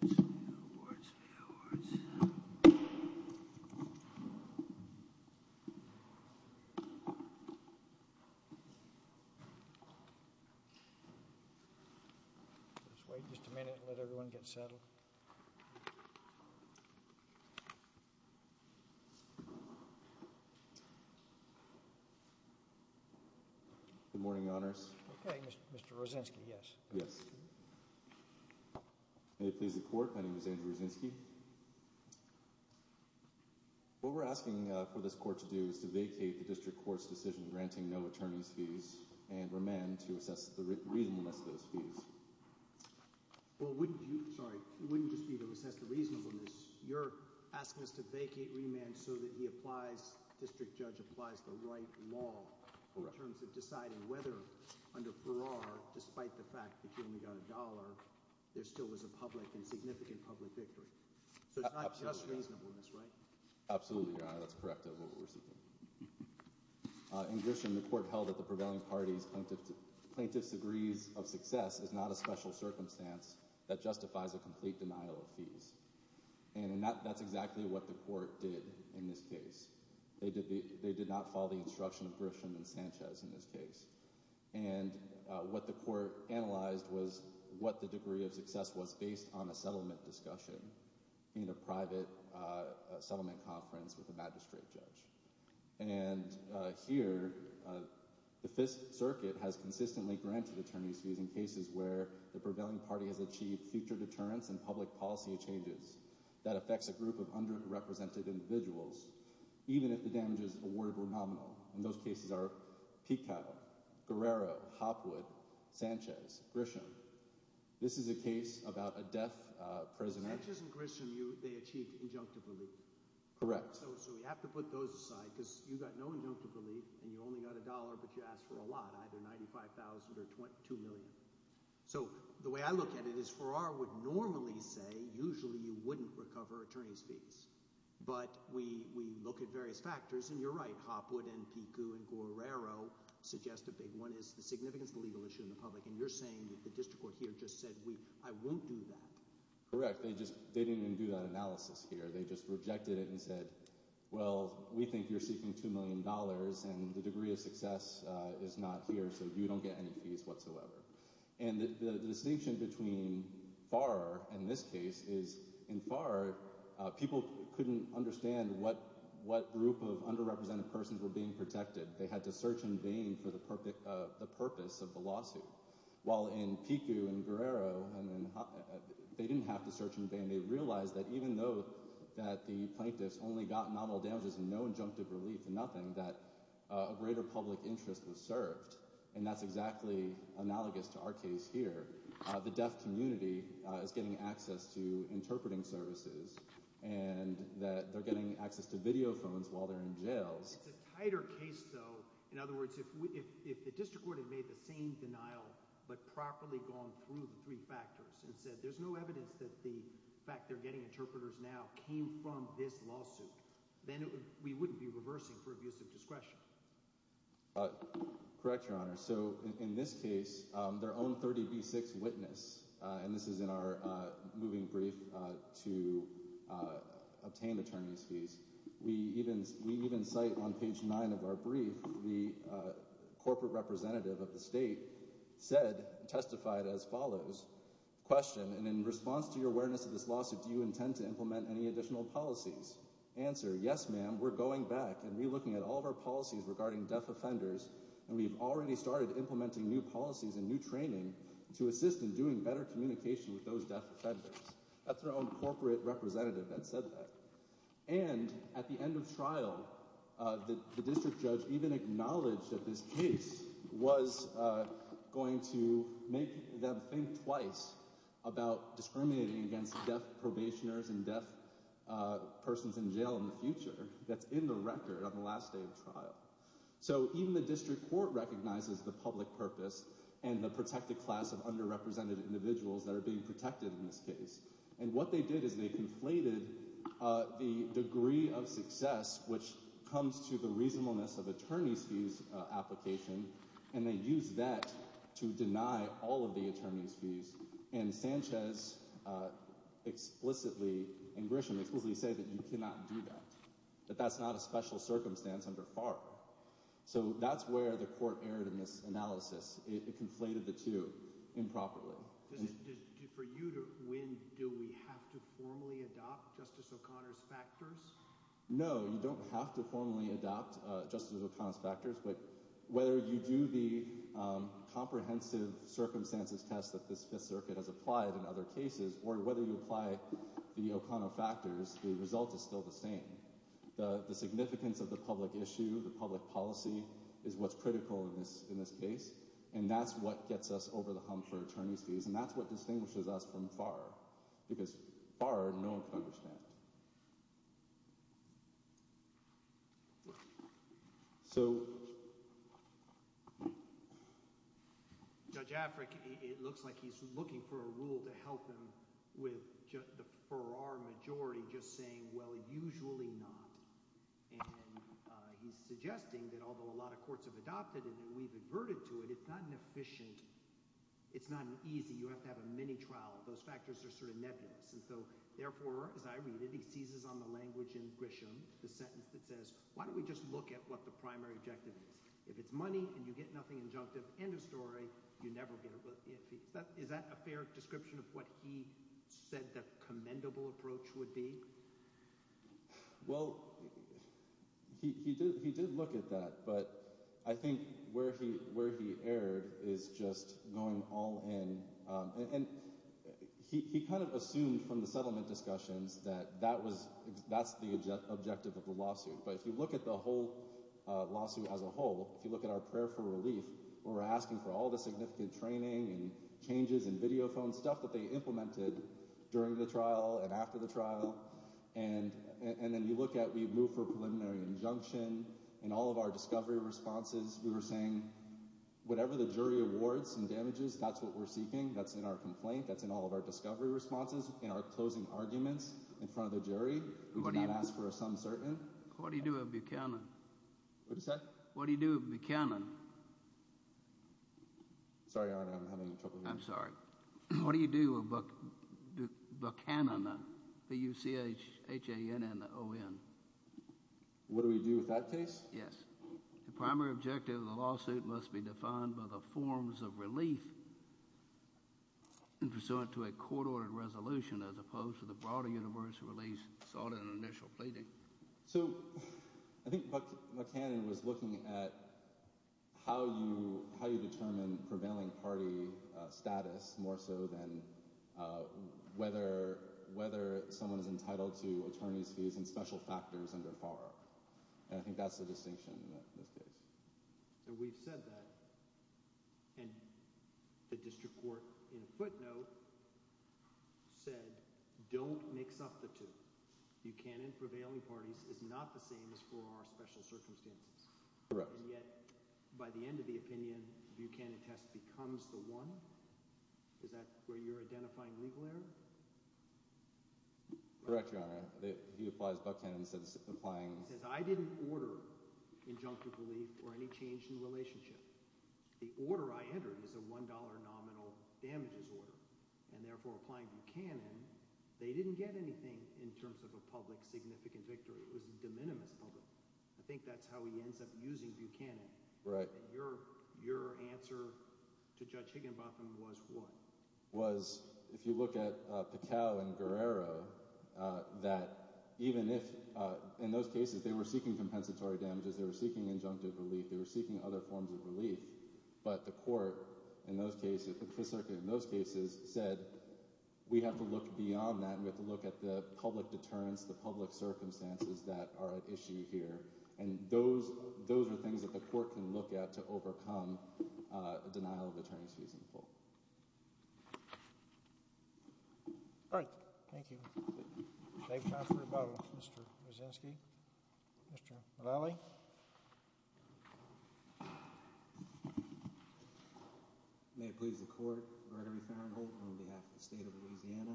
Let's wait just a minute. Let everyone get settled. Good morning, honors. Okay, Mr Rosensky. Yes, yes. May it please the court, my name is Andrew Rosensky. What we're asking for this court to do is to vacate the district court's decision granting no attorney's fees and remand to assess the reasonableness of those fees. Well, wouldn't you, sorry, it wouldn't just be to assess the reasonableness. You're asking us to vacate remand so that he applies, district judge applies the right law in terms of deciding whether under Farrar, despite the fact that you only got a dollar, there still was a public and significant public victory. So it's not just reasonableness, right? Absolutely, your honor. That's correct of what we're seeking. In Grisham, the court held that the prevailing party's plaintiff's degrees of success is not a special circumstance that justifies a complete denial of fees. And that's exactly what the court did in this case. They did not follow the instruction of Grisham and Sanchez in this case. And what the court analyzed was what the degree of success was based on a settlement discussion in a private settlement conference with a magistrate judge. And here, the Fifth Circuit has consistently granted attorney's fees in cases where the prevailing party has achieved future deterrence and public policy changes that affects a group of underrepresented individuals, even if the damages awarded were nominal. And those cases are Peacock, Guerrero, Hopwood, Sanchez, Grisham. This is a case about a deaf prisoner. Sanchez and Grisham, they achieved injunctive relief. Correct. So we have to put those aside because you got no injunctive relief and you only got a dollar, but you asked for a lot, either $95,000 or $2 million. So the way I look at it is Farrar would normally say usually you wouldn't recover attorney's fees. But we look at various factors, and you're right. Hopwood and Peacock and Guerrero suggest a big one is the significance of the legal issue in the public. And you're saying that the district court here just said, I won't do that. Correct. They didn't even do that analysis here. They just rejected it and said, well, we think you're seeking $2 million, and the degree of success is not here, so you don't get any fees whatsoever. And the distinction between Farrar and this case is in Farrar, people couldn't understand what group of underrepresented persons were being protected. They had to search in vain for the purpose of the lawsuit, while in Peacock and Guerrero, they didn't have to search in vain. They realized that even though that the plaintiffs only got nominal damages and no injunctive relief, nothing, that a greater public interest was served. And that's exactly analogous to our case here. The deaf community is getting access to interpreting services and that they're getting access to video phones while they're in jails. It's a tighter case, though. In other words, if the district court had made the same denial but properly gone through the three factors and said there's no evidence that the fact they're getting interpreters now came from this lawsuit, then we wouldn't be reversing for abuse of discretion. Correct, Your Honor. So in this case, their own 30B6 witness, and this is in our moving brief to obtain attorney's fees. We even cite on page nine of our brief, the corporate representative of the state said, testified as follows, question, and in response to your awareness of this lawsuit, do you intend to implement any additional policies? Answer, yes, ma'am, we're going back and relooking at all of our policies regarding deaf offenders, and we've already started implementing new policies and new training to assist in doing better communication with those deaf offenders. That's our own corporate representative that said that. And at the end of trial, the district judge even acknowledged that this case was going to make them think twice about discriminating against deaf probationers and deaf persons in jail in the future. That's in the record on the last day of trial. So even the district court recognizes the public purpose and the protected class of underrepresented individuals that are being protected in this case, and what they did is they conflated the degree of success, which comes to the reasonableness of attorney's fees application, and they used that to deny all of the attorney's fees. And Sanchez explicitly and Grisham explicitly say that you cannot do that, that that's not a special circumstance under FAR. So that's where the court erred in this analysis. It conflated the two improperly. For you to win, do we have to formally adopt Justice O'Connor's factors? No, you don't have to formally adopt Justice O'Connor's factors, but whether you do the comprehensive circumstances test that this Fifth Circuit has applied in other cases, or whether you apply the O'Connor factors, the result is still the same. The significance of the public issue, the public policy, is what's critical in this case, and that's what gets us over the hump for attorney's fees, and that's what distinguishes us from FAR, because FAR no one can understand. So Judge Affrick, it looks like he's looking for a rule to help him with – for our majority, just saying, well, usually not. And he's suggesting that although a lot of courts have adopted it and we've averted to it, it's not an efficient – it's not an easy – you have to have a mini-trial. Those factors are sort of nebulous, and so therefore, as I read it, he seizes on the language in Grisham, the sentence that says, why don't we just look at what the primary objective is? If it's money and you get nothing injunctive, end of story, you never get a – is that a fair description of what he said the commendable approach would be? Well, he did look at that, but I think where he erred is just going all in, and he kind of assumed from the settlement discussions that that was – that's the objective of the lawsuit. But if you look at the whole lawsuit as a whole, if you look at our prayer for relief, we're asking for all the significant training and changes in video phone stuff that they implemented during the trial and after the trial. And then you look at – we've moved for a preliminary injunction. In all of our discovery responses, we were saying whatever the jury awards and damages, that's what we're seeking. That's in our complaint. That's in all of our discovery responses. In our closing arguments in front of the jury, we did not ask for a some certain. What do you do with Buchanan? What is that? What do you do with Buchanan? Sorry, Your Honor, I'm having trouble hearing you. I'm sorry. What do you do with Buchanan, B-U-C-H-A-N-A-N-O-N? What do we do with that case? Yes. The primary objective of the lawsuit must be defined by the forms of relief pursuant to a court-ordered resolution as opposed to the broader universal relief sought in an initial pleading. So I think Buchanan was looking at how you determine prevailing party status more so than whether someone is entitled to attorney's fees and special factors under FAR. And I think that's the distinction in this case. So we've said that and the district court in a footnote said don't mix up the two. Buchanan prevailing parties is not the same as for our special circumstances. Correct. And yet by the end of the opinion, Buchanan test becomes the one? Is that where you're identifying legal error? Correct, Your Honor. He applies Buchanan. He says I didn't order injunctive relief or any change in relationship. The order I entered is a $1 nominal damages order, and therefore applying Buchanan, they didn't get anything in terms of a public significant victory. It was a de minimis public. I think that's how he ends up using Buchanan. Right. And your answer to Judge Higginbotham was what? Was if you look at the cow and Guerrero, that even if in those cases they were seeking compensatory damages, they were seeking injunctive relief. They were seeking other forms of relief. But the court in those cases in those cases said we have to look beyond that. We have to look at the public deterrence, the public circumstances that are at issue here. And those those are things that the court can look at to overcome denial of attorney's fees. All right. Thank you. Thank you. Mr. Mr. Valley. May it please the court. On behalf of the state of Louisiana.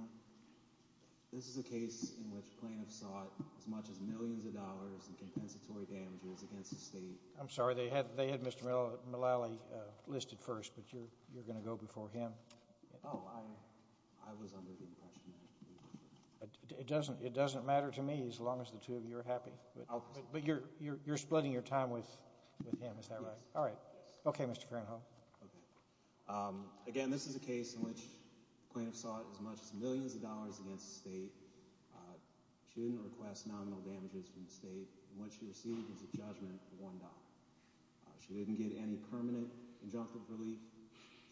This is a case in which plaintiffs sought as much as millions of dollars in compensatory damages against the state. I'm sorry. They had they had Mr. Melalee listed first. But you're you're going to go before him. Oh, I was under the impression. It doesn't it doesn't matter to me as long as the two of you are happy. But you're you're you're splitting your time with with him. Is that right? All right. OK, Mr. Again, this is a case in which plaintiffs sought as much as millions of dollars against the state. She didn't request nominal damages from the state. What you see is a judgment. One. She didn't get any permanent injunctive relief.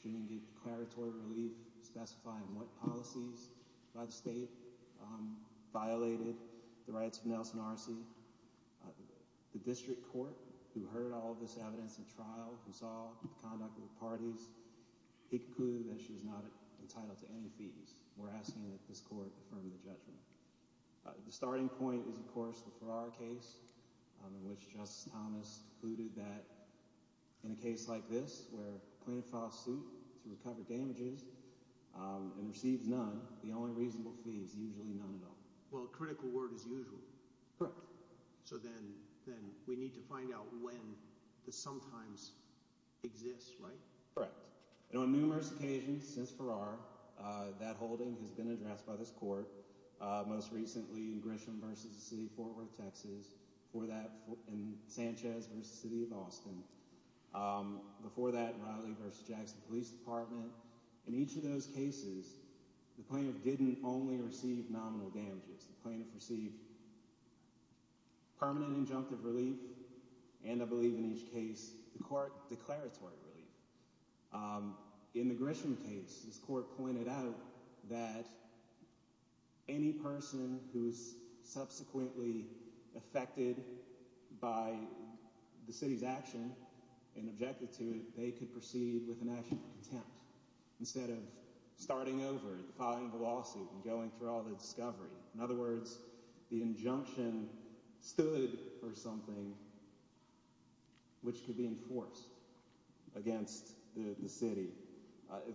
She didn't get declaratory relief specifying what policies by the state violated the rights of Nelson RC. The district court who heard all of this evidence in trial and saw the conduct of the parties, he concluded that she is not entitled to any fees. We're asking that this court from the judgment. The starting point is, of course, for our case, which just Thomas who did that in a case like this where plaintiff filed suit to recover damages and received none. The only reasonable fees, usually none at all. Well, critical word is usual. Correct. So then then we need to find out when the sometimes exists. Right. Correct. And on numerous occasions since for our that holding has been addressed by this court. Most recently, Grisham versus the city forward taxes for that in Sanchez versus the city of Austin. Before that, Riley versus Jackson Police Department. In each of those cases, the plaintiff didn't only receive nominal damages, the plaintiff received. Permanent injunctive relief, and I believe in each case the court declaratory relief in the Grisham case. This court pointed out that any person who is subsequently affected by the city's action and objected to it, they could proceed with a national contempt instead of starting over and filing a lawsuit and going through all the discovery. In other words, the injunction stood or something. Which could be enforced against the city.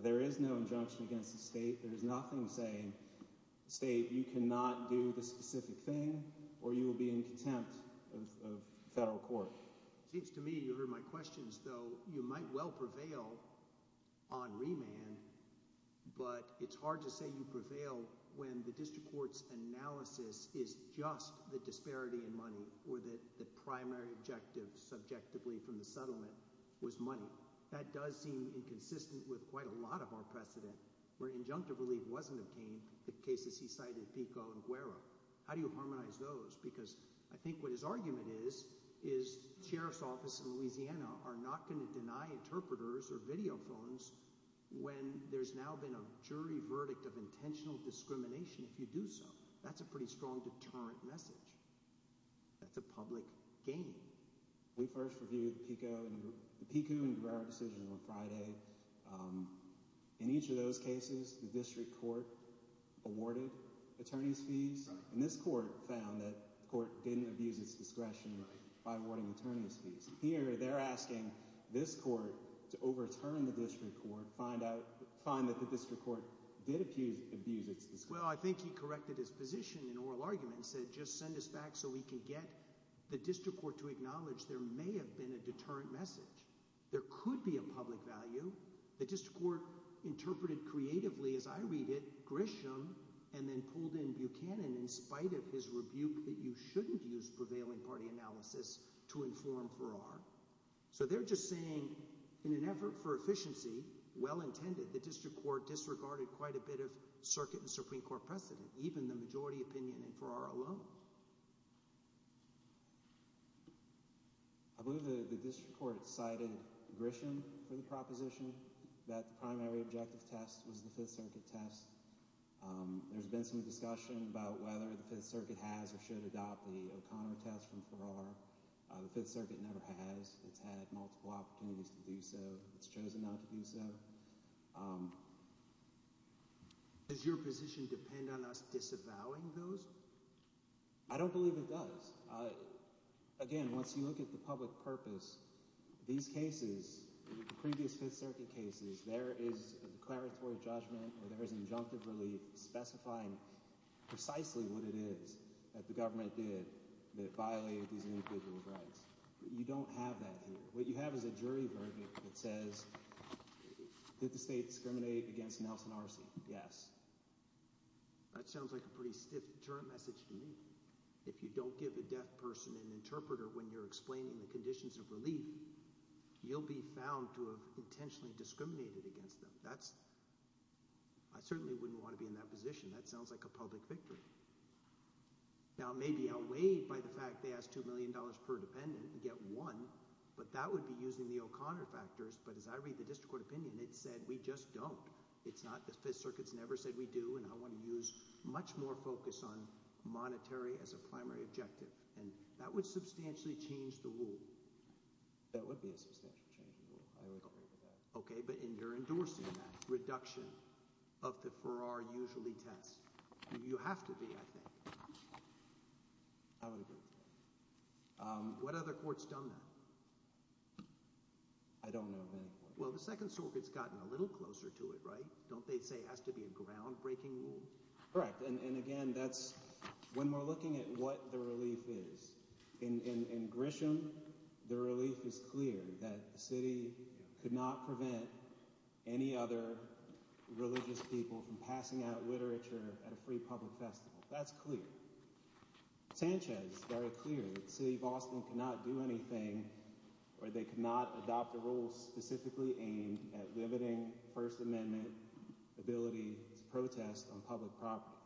There is no injunction against the state. There is nothing saying state. You cannot do the specific thing or you will be in contempt of federal court. Seems to me you heard my questions, though you might well prevail on remand. But it's hard to say you prevail when the district court's analysis is just the disparity in money or that the primary objective subjectively from the settlement was money. That does seem inconsistent with quite a lot of our precedent where injunctive relief wasn't obtained. The cases he cited, Pico and Guerra. How do you harmonize those? Because I think what his argument is, is sheriff's office in Louisiana are not going to deny interpreters or videophones when there's now been a jury verdict of intentional discrimination. If you do so, that's a pretty strong deterrent message. That's a public game. We first reviewed the Pico and Guerra decisions on Friday. In each of those cases, the district court awarded attorney's fees. And this court found that the court didn't abuse its discretion by awarding attorney's fees. Here they're asking this court to overturn the district court, find that the district court did abuse its discretion. Well, I think he corrected his position in oral arguments and said just send us back so we can get the district court to acknowledge there may have been a deterrent message. There could be a public value. The district court interpreted creatively, as I read it, Grisham and then pulled in Buchanan in spite of his rebuke that you shouldn't use prevailing party analysis to inform Farrar. So they're just saying in an effort for efficiency, well intended, the district court disregarded quite a bit of circuit and Supreme Court precedent, even the majority opinion in Farrar alone. I believe the district court cited Grisham for the proposition that the primary objective test was the Fifth Circuit test. There's been some discussion about whether the Fifth Circuit has or should adopt the O'Connor test from Farrar. The Fifth Circuit never has. It's had multiple opportunities to do so. It's chosen not to do so. Does your position depend on us disavowing those? I don't believe it does. Again, once you look at the public purpose, these cases, previous Fifth Circuit cases, there is a declaratory judgment or there is injunctive relief specifying precisely what it is that the government did that violated these individual rights. You don't have that here. What you have is a jury verdict that says did the state discriminate against Nelson Arce? Yes. That sounds like a pretty stiff deterrent message to me. If you don't give a deaf person an interpreter when you're explaining the conditions of relief, you'll be found to have intentionally discriminated against them. That's – I certainly wouldn't want to be in that position. That sounds like a public victory. Now, it may be outweighed by the fact they asked $2 million per dependent and get one, but that would be using the O'Connor factors. But as I read the district court opinion, it said we just don't. It's not – the Fifth Circuit's never said we do, and I want to use much more focus on monetary as a primary objective, and that would substantially change the rule. That would be a substantial change in the rule. I would agree with that. Okay, but you're endorsing that reduction of the Farrar usually test. You have to be, I think. I would agree with that. What other court's done that? I don't know of any court. Well, the Second Circuit's gotten a little closer to it, right? Don't they say it has to be a groundbreaking rule? Correct, and again, that's – when we're looking at what the relief is, in Grisham, the relief is clear that the city could not prevent any other religious people from passing out literature at a free public festival. That's clear. Sanchez, very clear. The city of Austin cannot do anything where they cannot adopt a rule specifically aimed at limiting First Amendment ability to protest on public property.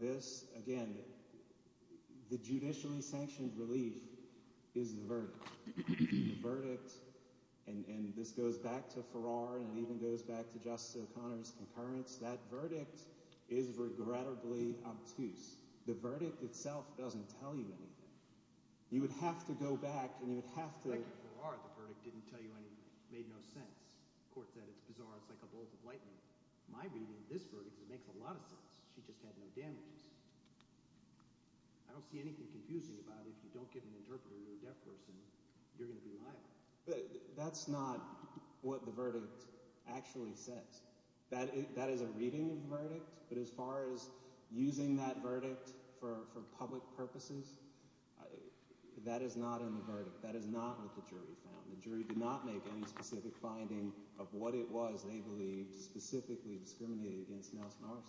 This, again, the judicially sanctioned relief is the verdict. The verdict – and this goes back to Farrar and it even goes back to Justice O'Connor's concurrence – that verdict is regrettably obtuse. The verdict itself doesn't tell you anything. You would have to go back and you would have to – Like in Farrar, the verdict didn't tell you anything. It made no sense. The court said it's bizarre. It's like a bolt of lightning. My reading of this verdict is it makes a lot of sense. She just had no damages. I don't see anything confusing about if you don't get an interpreter, you're a deaf person, you're going to be liable. That's not what the verdict actually says. That is a reading of the verdict, but as far as using that verdict for public purposes, that is not in the verdict. That is not what the jury found. The jury did not make any specific finding of what it was they believed specifically discriminated against Nelson Arsenault.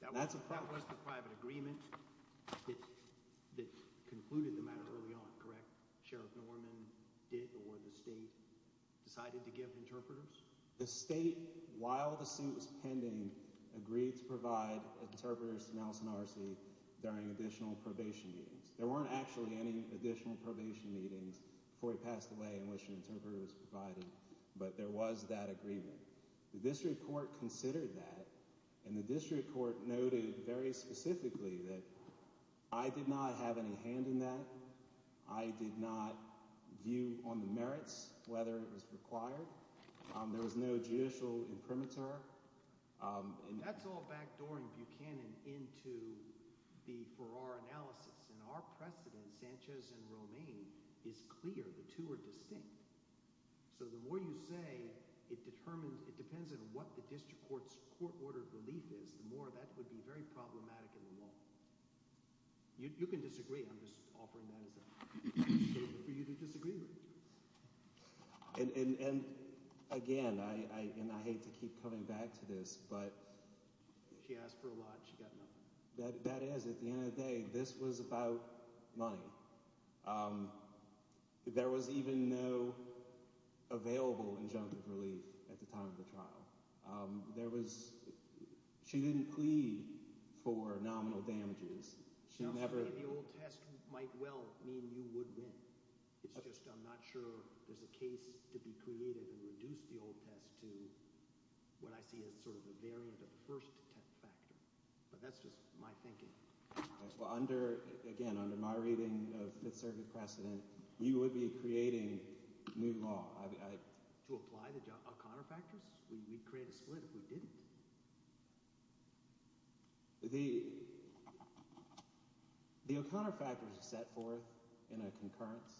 That was the private agreement that concluded the matter early on, correct? Sheriff Norman did or the state decided to give interpreters? The state, while the suit was pending, agreed to provide interpreters to Nelson Arsenault during additional probation meetings. There weren't actually any additional probation meetings before he passed away in which an interpreter was provided, but there was that agreement. The district court considered that, and the district court noted very specifically that I did not have any hand in that. I did not view on the merits whether it was required. There was no judicial imprimatur. That's all backdooring Buchanan into the Farrar analysis, and our precedent, Sanchez and Romaine, is clear. The two are distinct. So the more you say it determines – it depends on what the district court's court order belief is, the more that would be very problematic in the law. You can disagree. I'm just offering that as an opportunity for you to disagree with me. And again, and I hate to keep coming back to this, but – She asked for a lot. She got nothing. That is, at the end of the day, this was about money. There was even no available injunctive relief at the time of the trial. There was – she didn't plead for nominal damages. The old test might well mean you would win. It's just I'm not sure there's a case to be created and reduce the old test to what I see as sort of a variant of the first factor. But that's just my thinking. Well, under – again, under my reading of Fifth Circuit precedent, you would be creating new law. To apply the O'Connor factors? We'd create a split if we didn't. The O'Connor factors are set forth in a concurrence.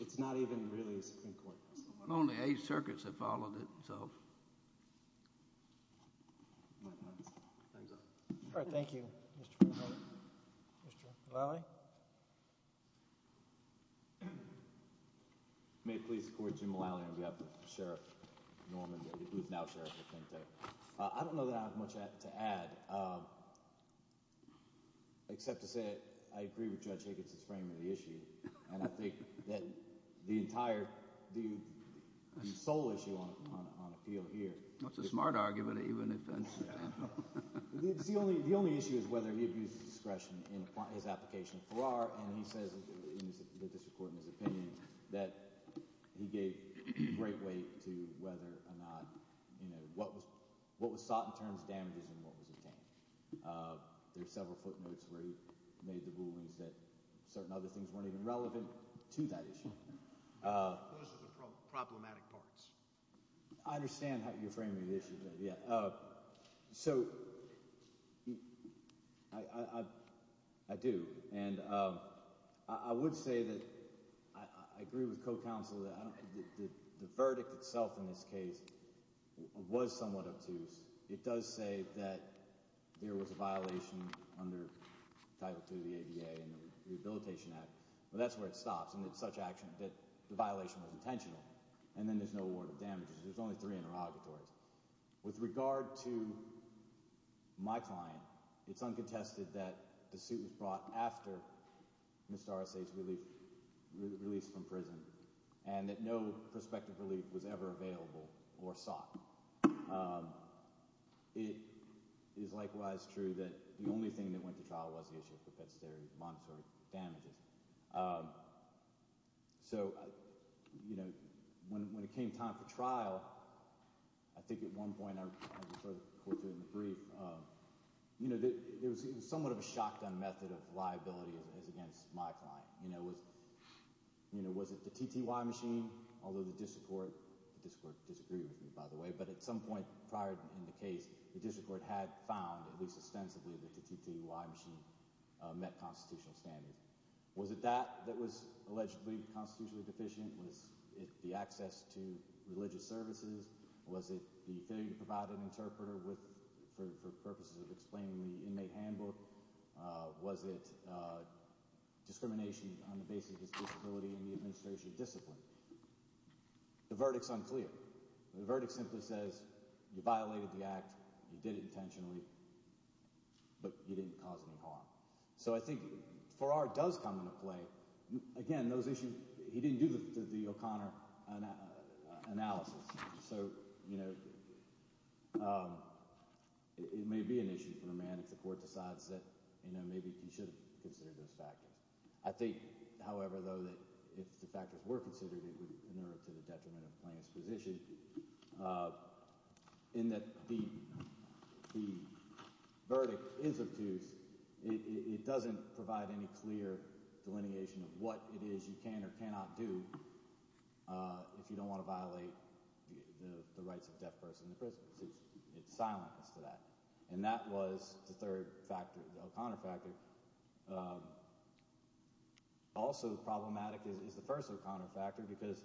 It's not even really a Supreme Court case. Only Eighth Circuit's have followed it, so. My time's up. All right, thank you, Mr. Bernhardt. Mr. Mulally? May it please the Court, Jim Mulally on behalf of Sheriff Norman, who is now Sheriff of Kentucky. I don't know that I have much to add except to say I agree with Judge Higgins's frame of the issue. And I think that the entire – the sole issue on appeal here – That's a smart argument even if it's – The only issue is whether he abuses discretion in his application of Farrar, and he says in the district court, in his opinion, that he gave great weight to whether or not – what was sought in terms of damages and what was obtained. There are several footnotes where he made the rulings that certain other things weren't even relevant to that issue. Those are the problematic parts. I understand how you frame the issue, but yeah. So, I do. And I would say that I agree with co-counsel that the verdict itself in this case was somewhat obtuse. It does say that there was a violation under Title II of the ADA and the Rehabilitation Act. But that's where it stops and it's such action that the violation was intentional, and then there's no award of damages. There's only three interrogatories. With regard to my client, it's uncontested that the suit was brought after Mr. Arce's release from prison and that no prospective relief was ever available or sought. It is likewise true that the only thing that went to trial was the issue of propensitary monetary damages. So when it came time for trial, I think at one point I referred to it in the brief. There was somewhat of a shotgun method of liability as against my client. Was it the TTY machine? Although the district court disagreed with me, by the way. But at some point prior in the case, the district court had found, at least ostensibly, that the TTY machine met constitutional standards. Was it that that was allegedly constitutionally deficient? Was it the access to religious services? Was it the failure to provide an interpreter for purposes of explaining the inmate handbook? Was it discrimination on the basis of his disability and the administration's discipline? The verdict's unclear. The verdict simply says you violated the act, you did it intentionally, but you didn't cause any harm. So I think Farrar does come into play. Again, those issues – he didn't do the O'Connor analysis. So it may be an issue for a man if the court decides that maybe he should have considered those factors. I think, however, though, that if the factors were considered, it would inerr to the detriment of the plaintiff's position in that the verdict is obtuse. It doesn't provide any clear delineation of what it is you can or cannot do if you don't want to violate the rights of a deaf person in the prison. It's silence to that. And that was the third factor, the O'Connor factor. Also problematic is the first O'Connor factor because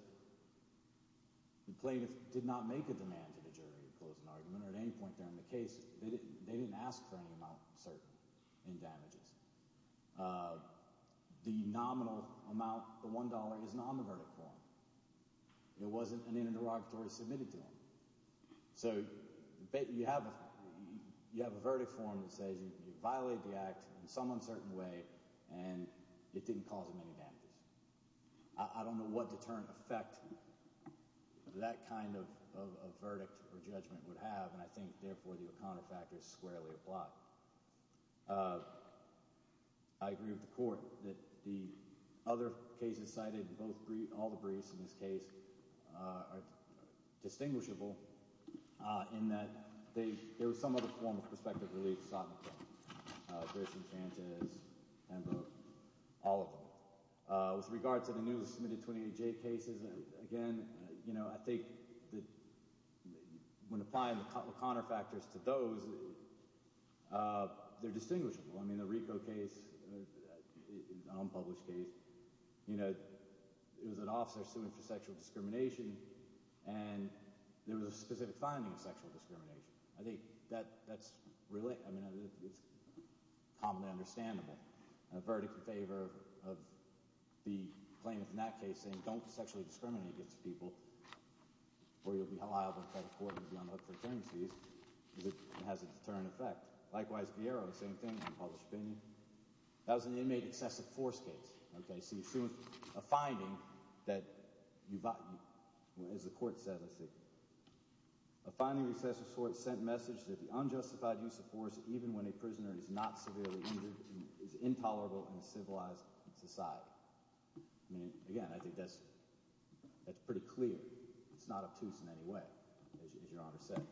the plaintiff did not make a demand to the jury to close an argument. At any point there in the case, they didn't ask for any amount asserted in damages. The nominal amount, the $1, is not on the verdict form. It wasn't in an interrogatory submitted to them. So you have a verdict form that says you violated the act in some uncertain way, and it didn't cause them any damages. I don't know what deterrent effect that kind of verdict or judgment would have, and I think, therefore, the O'Connor factor is squarely applied. I agree with the court that the other cases cited, all the briefs in this case, are distinguishable in that there was some other form of prospective relief sought in court. Grisham, Sanchez, Hembrook, all of them. With regard to the newly submitted 28J cases, again, I think when applying the O'Connor factors to those, they're distinguishable. I mean the RICO case, the unpublished case, it was an officer suing for sexual discrimination, and there was a specific finding of sexual discrimination. I think that's – I mean it's commonly understandable. A verdict in favor of the claimant in that case saying don't sexually discriminate against people or you'll be held liable in federal court and be on the hook for attorney's fees. It has a deterrent effect. Likewise, Vieiro, same thing, unpublished opinion. That was an inmate excessive force case. Okay, so you're suing a finding that, as the court said, let's see, a finding of excessive force sent message that the unjustified use of force even when a prisoner is not severely injured is intolerable in a civilized society. I mean, again, I think that's pretty clear. It's not obtuse in any way, as Your Honor said.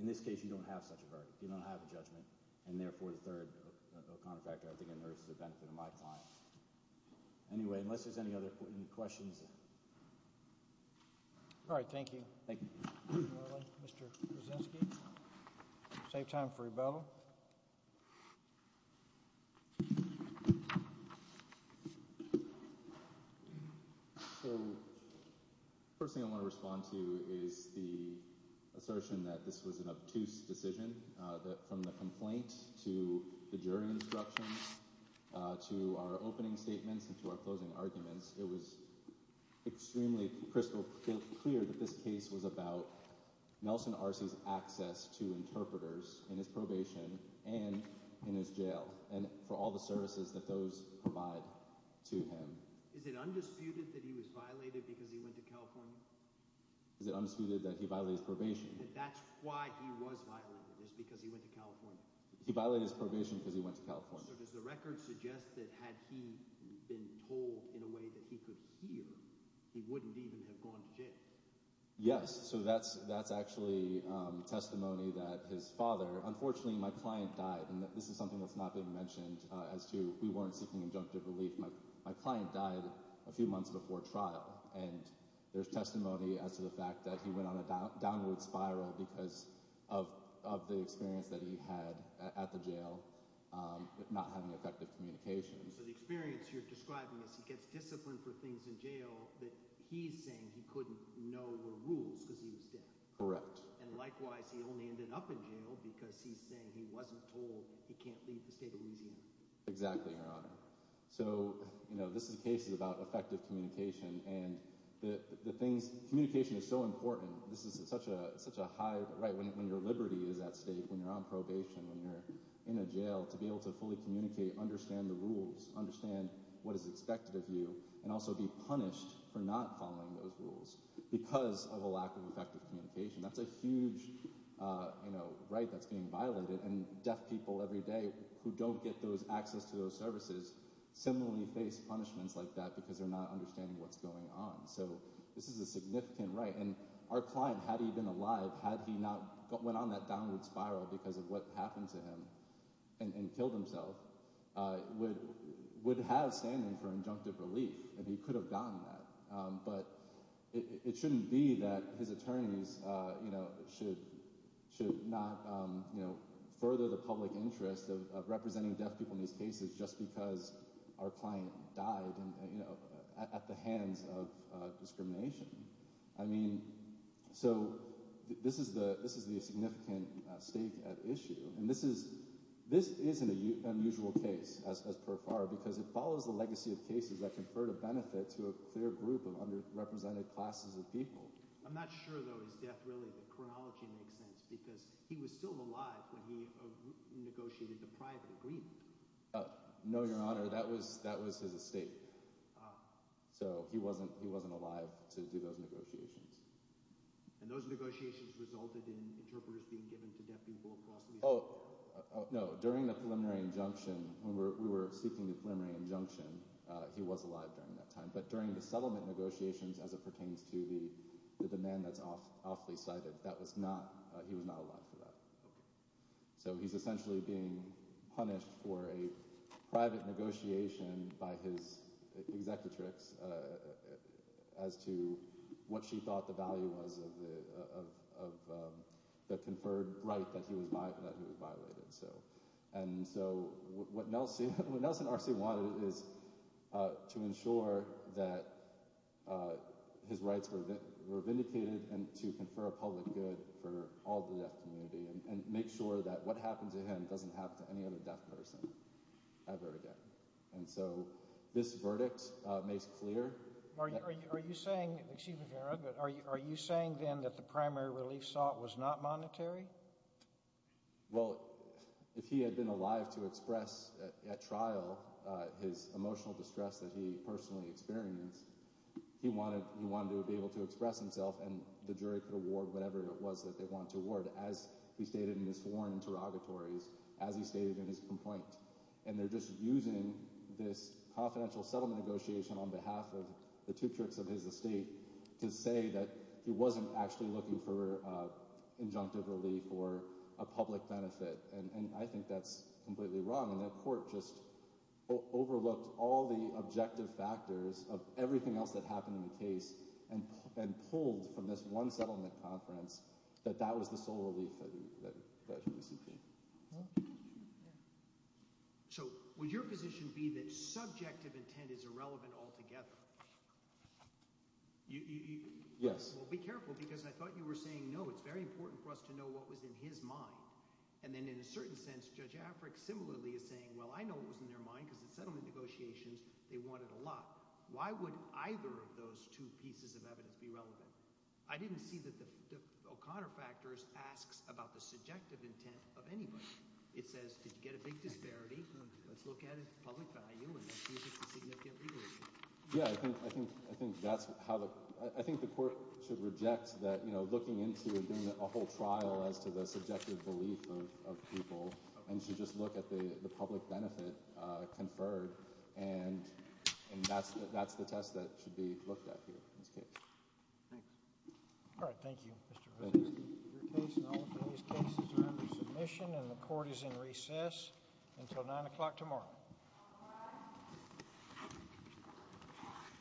In this case, you don't have such a verdict. You don't have a judgment. And therefore, as a third contractor, I think it inherits the benefit of my time. Anyway, unless there's any other questions. All right, thank you. Thank you. Mr. Brzezinski, save time for rebuttal. First thing I want to respond to is the assertion that this was an obtuse decision that from the complaint to the jury instructions to our opening statements and to our closing arguments, it was extremely crystal clear that this case was about Nelson Arce's access to interpreters in his probation and in his jail. And for all the services that those provide to him. Is it undisputed that he was violated because he went to California? Is it undisputed that he violated his probation? That's why he was violated, is because he went to California. He violated his probation because he went to California. So does the record suggest that had he been told in a way that he could hear, he wouldn't even have gone to jail? Yes. So that's actually testimony that his father, unfortunately my client died. And this is something that's not been mentioned as to we weren't seeking injunctive relief. My client died a few months before trial. And there's testimony as to the fact that he went on a downward spiral because of the experience that he had at the jail, not having effective communication. So the experience you're describing is he gets disciplined for things in jail that he's saying he couldn't know were rules because he was deaf. Correct. And likewise, he only ended up in jail because he's saying he wasn't told he can't leave the state of Louisiana. Exactly, Your Honor. So this is a case about effective communication. And the things – communication is so important. This is such a high – when your liberty is at stake, when you're on probation, when you're in a jail, to be able to fully communicate, understand the rules, understand what is expected of you, and also be punished for not following those rules because of a lack of effective communication. That's a huge right that's being violated. And deaf people every day who don't get those – access to those services similarly face punishments like that because they're not understanding what's going on. So this is a significant right. And our client, had he been alive, had he not went on that downward spiral because of what happened to him and killed himself, would have standing for injunctive relief. And he could have gotten that. But it shouldn't be that his attorneys should not further the public interest of representing deaf people in these cases just because our client died at the hands of discrimination. I mean, so this is the significant stake at issue. And this is an unusual case as per far because it follows the legacy of cases that conferred a benefit to a clear group of underrepresented classes of people. I'm not sure, though, his death really. The chronology makes sense because he was still alive when he negotiated the private agreement. No, Your Honor. That was his estate. So he wasn't alive to do those negotiations. And those negotiations resulted in interpreters being given to deaf people across the – Oh, no. During the preliminary injunction, when we were seeking the preliminary injunction, he was alive during that time. But during the settlement negotiations as it pertains to the demand that's awfully cited, that was not – he was not alive for that. So he's essentially being punished for a private negotiation by his executrix as to what she thought the value was of the conferred right that he was violated. And so what Nelson R.C. wanted is to ensure that his rights were vindicated and to confer a public good for all the deaf community and make sure that what happened to him doesn't happen to any other deaf person ever again. And so this verdict makes clear – Are you saying – excuse me, Your Honor, but are you saying then that the primary relief sought was not monetary? Well, if he had been alive to express at trial his emotional distress that he personally experienced, he wanted to be able to express himself and the jury could award whatever it was that they wanted to award, as he stated in his sworn interrogatories, as he stated in his complaint. And they're just using this confidential settlement negotiation on behalf of the two clerks of his estate to say that he wasn't actually looking for injunctive relief or a public benefit. And I think that's completely wrong, and that court just overlooked all the objective factors of everything else that happened in the case and pulled from this one settlement conference that that was the sole relief that he was seeking. So would your position be that subjective intent is irrelevant altogether? Yes. Well, be careful, because I thought you were saying, no, it's very important for us to know what was in his mind. And then in a certain sense, Judge Affrick similarly is saying, well, I know what was in their mind because the settlement negotiations, they wanted a lot. Why would either of those two pieces of evidence be relevant? I didn't see that the O'Connor factors asks about the subjective intent of anybody. It says, did you get a big disparity? Let's look at it for public value and see if it's a significant legal issue. Yeah, I think I think I think that's how I think the court should reject that, you know, looking into a whole trial as to the subjective belief of people and to just look at the public benefit conferred. And and that's that's the test that should be looked at here. All right. Thank you. Submission and the court is in recess until nine o'clock tomorrow. All right.